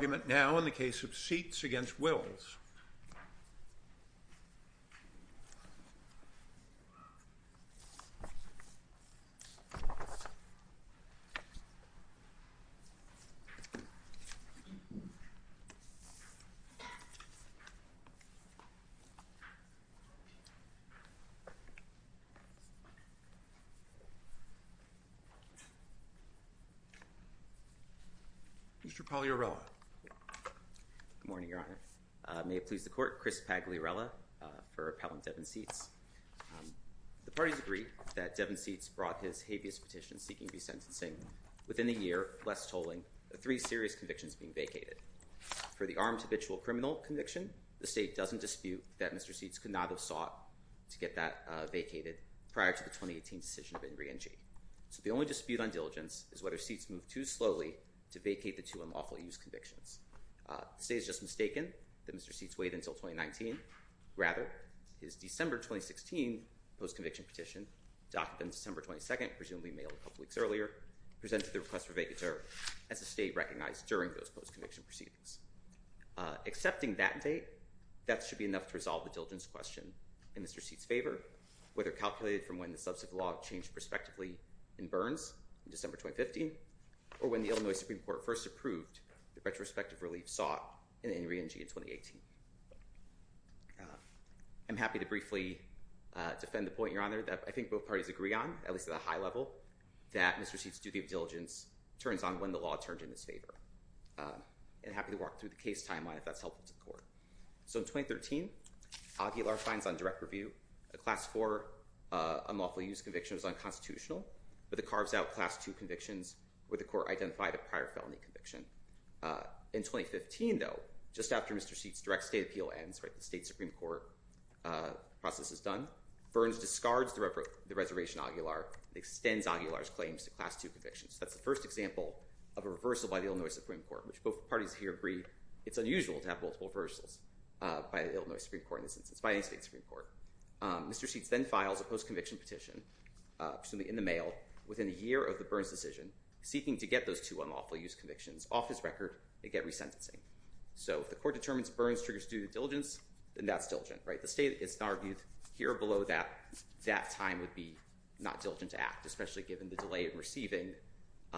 The argument now in the case of Seats v. Wills. Mr. Pagliarella Good morning, Your Honor. May it please the Court, Chris Pagliarella for Appellant Devin Seats. The parties agree that Devin Seats brought his habeas petition seeking resentencing within a year, less tolling, of three serious convictions being vacated. For the armed habitual criminal conviction, the State doesn't dispute that Mr. Seats could not have sought to get that vacated prior to the 2018 decision of Ingri and G. So the only dispute on diligence is whether Seats moved too slowly to vacate the two unlawful use convictions. The State is just mistaken that Mr. Seats waited until 2019. Rather, his December 2016 post-conviction petition, documented on December 22nd and presumably mailed a couple weeks earlier, presented the request for vacature as the State recognized during those post-conviction proceedings. Accepting that date, that should be enough to resolve the diligence question in Mr. Seats' favor, whether calculated from when the subsequent law changed prospectively in Burns in December 2015 or when the Illinois Supreme Court first approved the retrospective relief sought in Ingri and G. in 2018. I'm happy to briefly defend the point, Your Honor, that I think both parties agree on, at least at a high level, that Mr. Seats' duty of diligence turns on when the law turns in his favor. And I'm happy to walk through the case timeline if that's helpful to the court. So in 2013, Aguilar finds on direct review a Class IV unlawful use conviction that was unconstitutional, but it carves out Class II convictions where the court identified a prior felony conviction. In 2015, though, just after Mr. Seats' direct state appeal ends, right, the State Supreme Court process is done, Burns discards the reservation Aguilar, extends Aguilar's claims to Class II convictions. That's the first example of a reversal by the Illinois Supreme Court, which both parties here agree it's unusual to have multiple reversals by the Illinois Supreme Court in this instance, by any State Supreme Court. Mr. Seats then files a post-conviction petition, presumably in the mail, within a year of the Burns decision, seeking to get those two unlawful use convictions off his record and get resentencing. So if the court determines Burns triggers due diligence, then that's diligent, right? The State has argued here below that that time would be not diligent to act, especially given the delay in receiving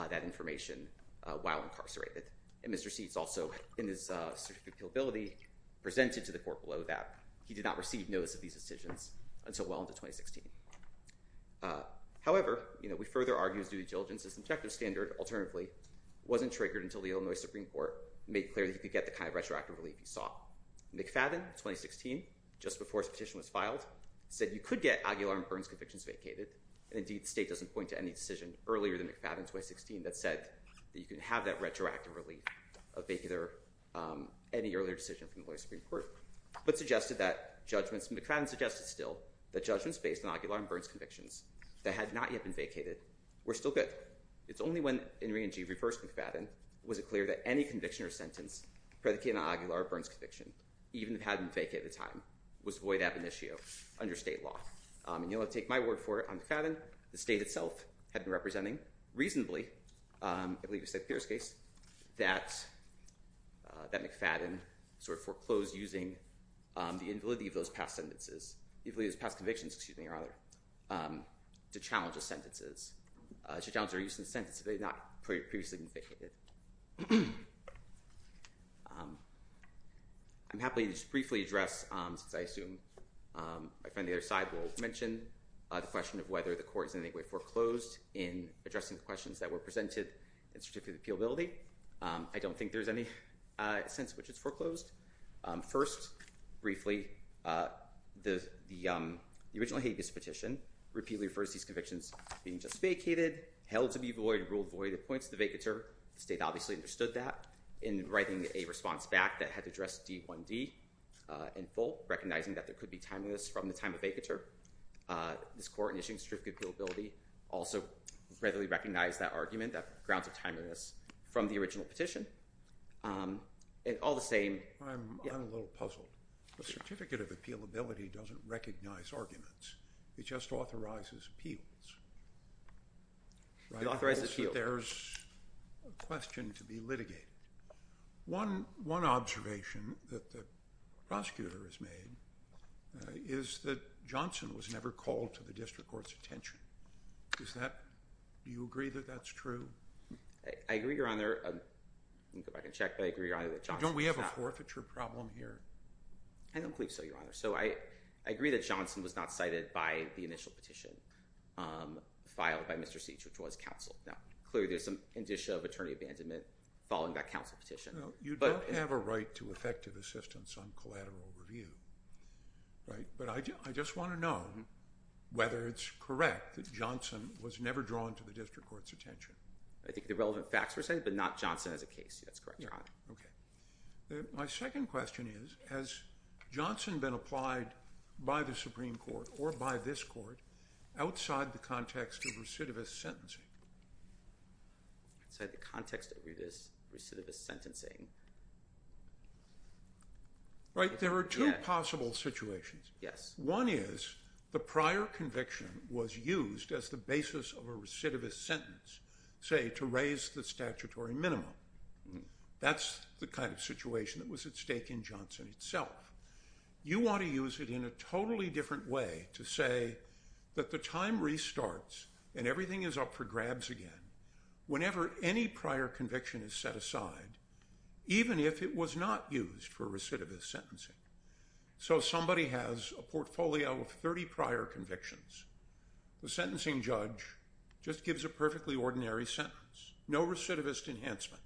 that information while incarcerated. And Mr. Seats also, in his certificate of appealability, presented to the court below that he did not receive notice of these decisions until well into 2016. However, you know, we further argue his due diligence is objective standard, alternatively, wasn't triggered until the Illinois Supreme Court made clear that he could get the kind of retroactive relief he sought. McFadden, 2016, just before his petition was filed, said you could get Aguilar and Burns convictions vacated. And indeed, the State doesn't point to any decision earlier than McFadden, 2016, that said that you can have that retroactive relief of any earlier decision from the Illinois Supreme Court. But suggested that judgments—McFadden suggested still that judgments based on Aguilar and Burns convictions that had not yet been vacated were still good. But it's only when Ingrid and Jeeve refer to McFadden was it clear that any conviction or sentence predicated on Aguilar or Burns conviction, even if it hadn't been vacated at the time, was void ab initio under State law. And you'll have to take my word for it on McFadden. The State itself had been representing reasonably—I believe it was Seth Pierce's case—that McFadden sort of foreclosed using the invalidity of those past sentences—invalidity of those past convictions, excuse me, rather—to challenge his sentences. To challenge their use of the sentence that had not previously been vacated. I'm happy to just briefly address, since I assume my friend on the other side will mention, the question of whether the Court is in any way foreclosed in addressing the questions that were presented in Certificate of Appealability. I don't think there's any sense in which it's foreclosed. First, briefly, the original habeas petition repeatedly refers to these convictions being just vacated, held to be void, and ruled void of points of the vacatur. The State obviously understood that in writing a response back that had to address D1D in full, recognizing that there could be timeliness from the time of vacatur. This Court, in issuing Certificate of Appealability, also readily recognized that argument, that grounds of timeliness, from the original petition. All the same— I'm a little puzzled. The Certificate of Appealability doesn't recognize arguments. It just authorizes appeals. It authorizes appeals. There's a question to be litigated. One observation that the prosecutor has made is that Johnson was never called to the district court's attention. Is that—do you agree that that's true? I agree, Your Honor. Let me go back and check, but I agree, Your Honor, that Johnson was not— Don't we have a forfeiture problem here? I don't believe so, Your Honor. So I agree that Johnson was not cited by the initial petition filed by Mr. Seitch, which was counsel. Now, clearly, there's some indicia of attorney abandonment following that counsel petition. You don't have a right to effective assistance on collateral review, right? But I just want to know whether it's correct that Johnson was never drawn to the district court's attention. I think the relevant facts were cited, but not Johnson as a case. That's correct, Your Honor. Okay. My second question is, has Johnson been applied by the Supreme Court or by this court outside the context of recidivist sentencing? Outside the context of recidivist sentencing? Right. There are two possible situations. Yes. One is the prior conviction was used as the basis of a recidivist sentence, say, to raise the statutory minimum. That's the kind of situation that was at stake in Johnson itself. You want to use it in a totally different way to say that the time restarts and everything is up for grabs again whenever any prior conviction is set aside, even if it was not used for recidivist sentencing. So somebody has a portfolio of 30 prior convictions. The sentencing judge just gives a perfectly ordinary sentence. No recidivist enhancement.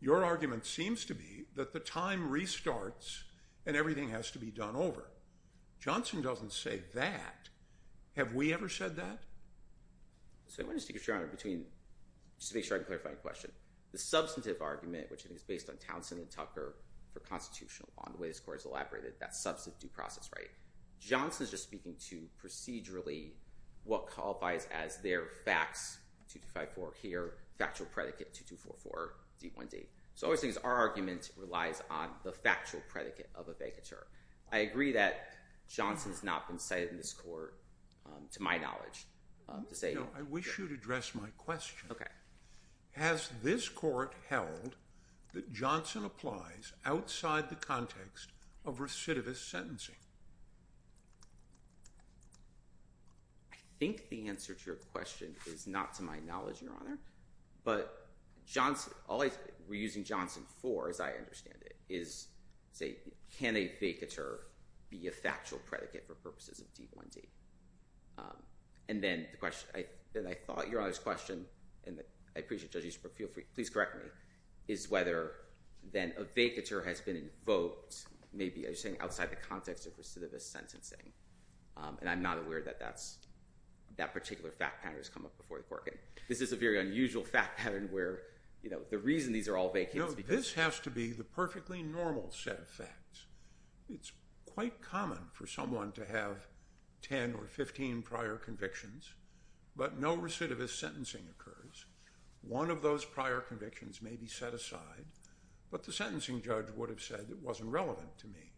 Your argument seems to be that the time restarts and everything has to be done over. Johnson doesn't say that. Have we ever said that? So I'm going to stick it, Your Honor, between—just to make sure I can clarify your question. The substantive argument, which I think is based on Townsend and Tucker for constitutional law, and the way this court has elaborated that substantive due process right, Johnson is just speaking to procedurally what qualifies as their facts, 2254 here, factual predicate 2244, D1D. So all he's saying is our argument relies on the factual predicate of a vacatur. I agree that Johnson has not been cited in this court, to my knowledge, to say— No, I wish you would address my question. Okay. Has this court held that Johnson applies outside the context of recidivist sentencing? I think the answer to your question is not to my knowledge, Your Honor. But all we're using Johnson for, as I understand it, is, say, can a vacatur be a factual predicate for purposes of D1D? And then the question—and I thought, Your Honor's question, and I appreciate, Judge Eastbrook, feel free, please correct me, is whether then a vacatur has been invoked maybe, as you're saying, outside the context of recidivist sentencing. And I'm not aware that that particular fact pattern has come up before the court. This is a very unusual fact pattern where, you know, the reason these are all vacates— No, this has to be the perfectly normal set of facts. It's quite common for someone to have 10 or 15 prior convictions, but no recidivist sentencing occurs. One of those prior convictions may be set aside, but the sentencing judge would have said it wasn't relevant to me.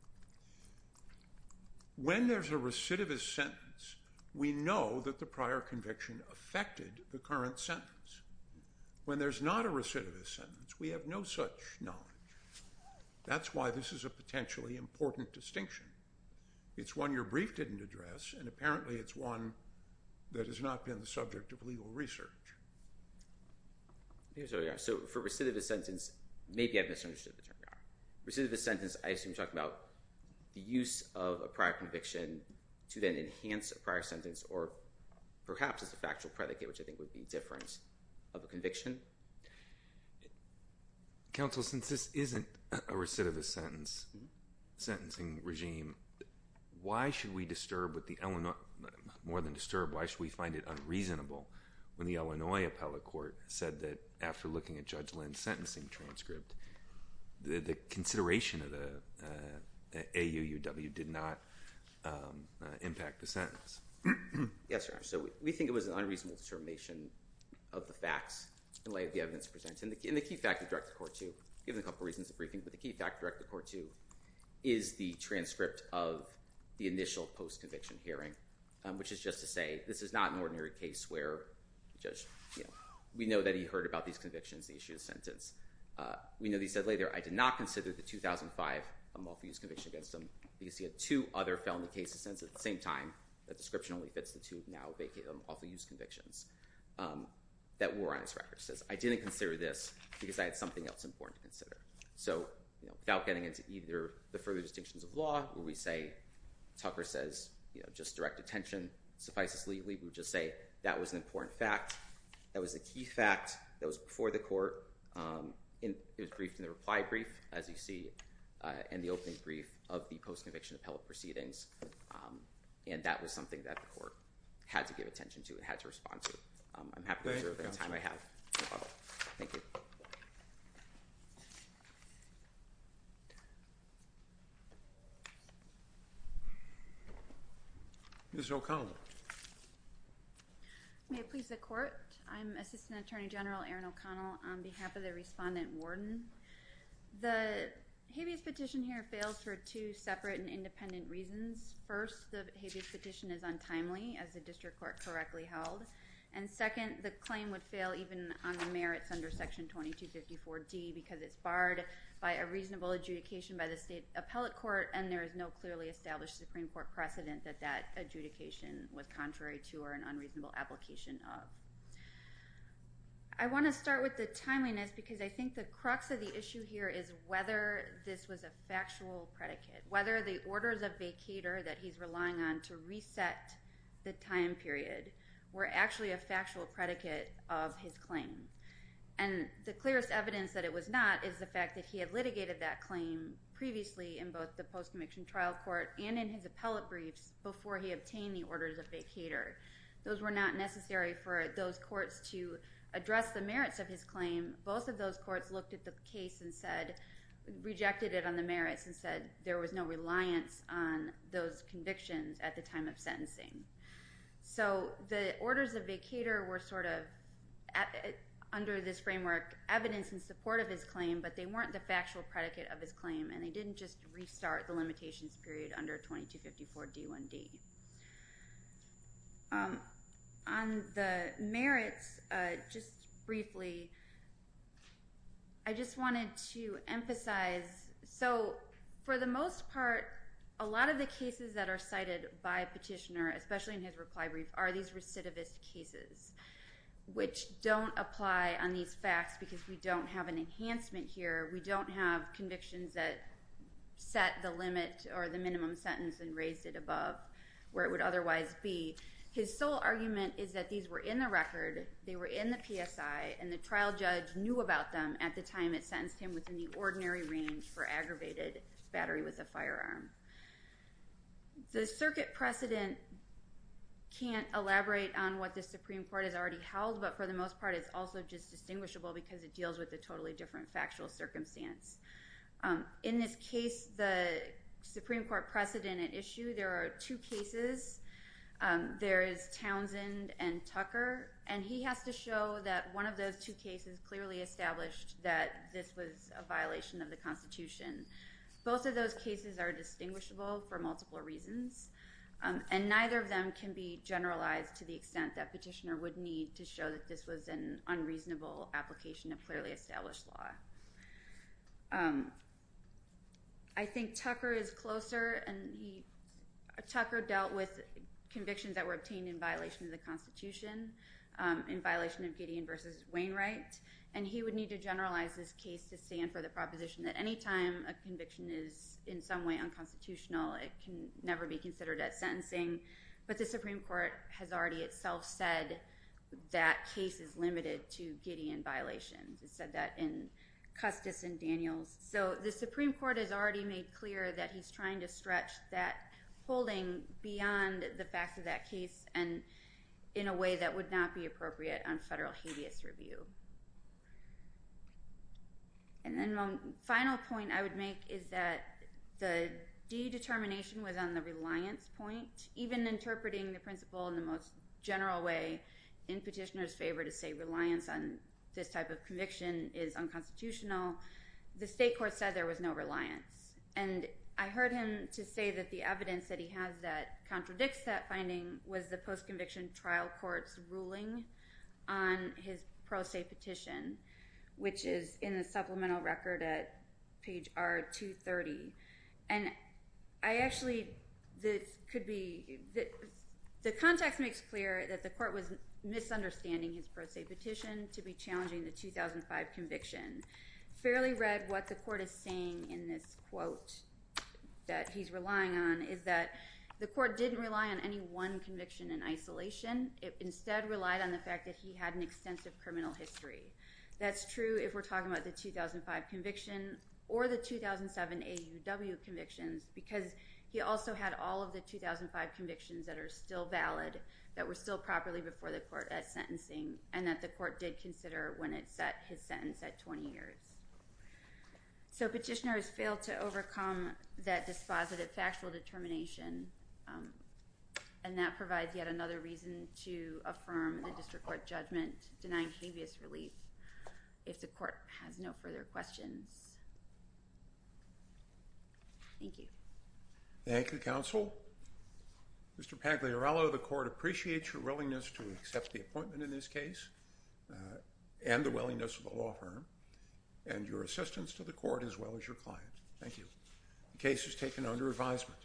When there's a recidivist sentence, we know that the prior conviction affected the current sentence. When there's not a recidivist sentence, we have no such knowledge. That's why this is a potentially important distinction. It's one your brief didn't address, and apparently it's one that has not been the subject of legal research. So for recidivist sentence, maybe I misunderstood the term. Recidivist sentence, I assume you're talking about the use of a prior conviction to then enhance a prior sentence or perhaps it's a factual predicate, which I think would be different of a conviction. Counsel, since this isn't a recidivist sentence, sentencing regime, why should we disturb with the—more than disturb, why should we find it unreasonable when the Illinois appellate court said that after looking at Judge Lynn's sentencing transcript, the consideration of the AUUW did not impact the sentence? Yes, Your Honor. So we think it was an unreasonable determination of the facts in light of the evidence presented. And the key fact of Directed Court 2, given a couple reasons of briefing, but the key fact of Directed Court 2 is the transcript of the initial post-conviction hearing, which is just to say this is not an ordinary case where the judge, you know, we know that he heard about these convictions, the issue of the sentence. We know that he said later, I did not consider the 2005 Amalfi use conviction against him because he had two other felony cases sentenced at the same time. That description only fits the two now vacated Amalfi use convictions that were on his record. He says, I didn't consider this because I had something else important to consider. So, you know, without getting into either the further distinctions of law where we say, Tucker says, you know, just direct attention suffices legally, we would just say that was an important fact. That was a key fact that was before the court. It was briefed in the reply brief, as you see, and the opening brief of the post-conviction appellate proceedings. And that was something that the court had to give attention to and had to respond to. I'm happy to reserve the time I have. Thank you. Ms. O'Connell. May it please the court. I'm Assistant Attorney General Erin O'Connell on behalf of the respondent warden. The habeas petition here fails for two separate and independent reasons. First, the habeas petition is untimely, as the district court correctly held. And second, the claim would fail even on the merits under Section 2254D because it's barred by a reasonable adjudication by the state appellate court and there is no clearly established Supreme Court precedent that that adjudication was contrary to or an unreasonable application of. I want to start with the timeliness because I think the crux of the issue here is whether this was a factual predicate, whether the orders of vacater that he's relying on to reset the time period were actually a factual predicate of his claim. And the clearest evidence that it was not is the fact that he had litigated that claim previously in both the post-conviction trial court and in his appellate briefs before he obtained the orders of vacater. Those were not necessary for those courts to address the merits of his claim. Both of those courts looked at the case and rejected it on the merits and said there was no reliance on those convictions at the time of sentencing. So the orders of vacater were sort of, under this framework, evidence in support of his claim, but they weren't the factual predicate of his claim and they didn't just restart the limitations period under 2254 D1D. On the merits, just briefly, I just wanted to emphasize. So for the most part, a lot of the cases that are cited by Petitioner, especially in his reply brief, are these recidivist cases, which don't apply on these facts because we don't have an enhancement here. We don't have convictions that set the limit or the minimum sentence and raised it above where it would otherwise be. His sole argument is that these were in the record, they were in the PSI, and the trial judge knew about them at the time it sentenced him within the ordinary range for aggravated battery with a firearm. The circuit precedent can't elaborate on what the Supreme Court has already held, but for the most part it's also just distinguishable because it deals with a totally different factual circumstance. In this case, the Supreme Court precedent at issue, there are two cases. There is Townsend and Tucker, and he has to show that one of those two cases clearly established that this was a violation of the Constitution. Both of those cases are distinguishable for multiple reasons, and neither of them can be generalized to the extent that Petitioner would need to show that this was an unreasonable application of clearly established law. I think Tucker is closer, and Tucker dealt with convictions that were obtained in violation of the Constitution, in violation of Gideon v. Wainwright, and he would need to generalize this case to stand for the proposition that any time a conviction is in some way unconstitutional, it can never be considered as sentencing. But the Supreme Court has already itself said that case is limited to Gideon violations. It said that in Custis and Daniels. So the Supreme Court has already made clear that he's trying to stretch that holding beyond the facts of that case and in a way that would not be appropriate on federal habeas review. And then one final point I would make is that the de-determination was on the reliance point. Even interpreting the principle in the most general way in Petitioner's favor to say reliance on this type of conviction is unconstitutional, the state court said there was no reliance. And I heard him to say that the evidence that he has that contradicts that finding was the post-conviction trial court's ruling on his pro se petition, which is in the supplemental record at page R230. And I actually could be... The context makes clear that the court was misunderstanding his pro se petition to be challenging the 2005 conviction. Fairly read what the court is saying in this quote that he's relying on is that the court didn't rely on any one conviction in isolation. It instead relied on the fact that he had an extensive criminal history. That's true if we're talking about the 2005 conviction or the 2007 AUW convictions because he also had all of the 2005 convictions that are still valid that were still properly before the court at sentencing and that the court did consider when it set his sentence at 20 years. So Petitioner has failed to overcome that dispositive factual determination, and that provides yet another reason to affirm the district court judgment denying previous relief if the court has no further questions. Thank you. Thank you, counsel. Mr. Pagliarolo, the court appreciates your willingness to accept the appointment in this case and the willingness of the law firm and your assistance to the court as well as your client. Thank you. The case is taken under advisement.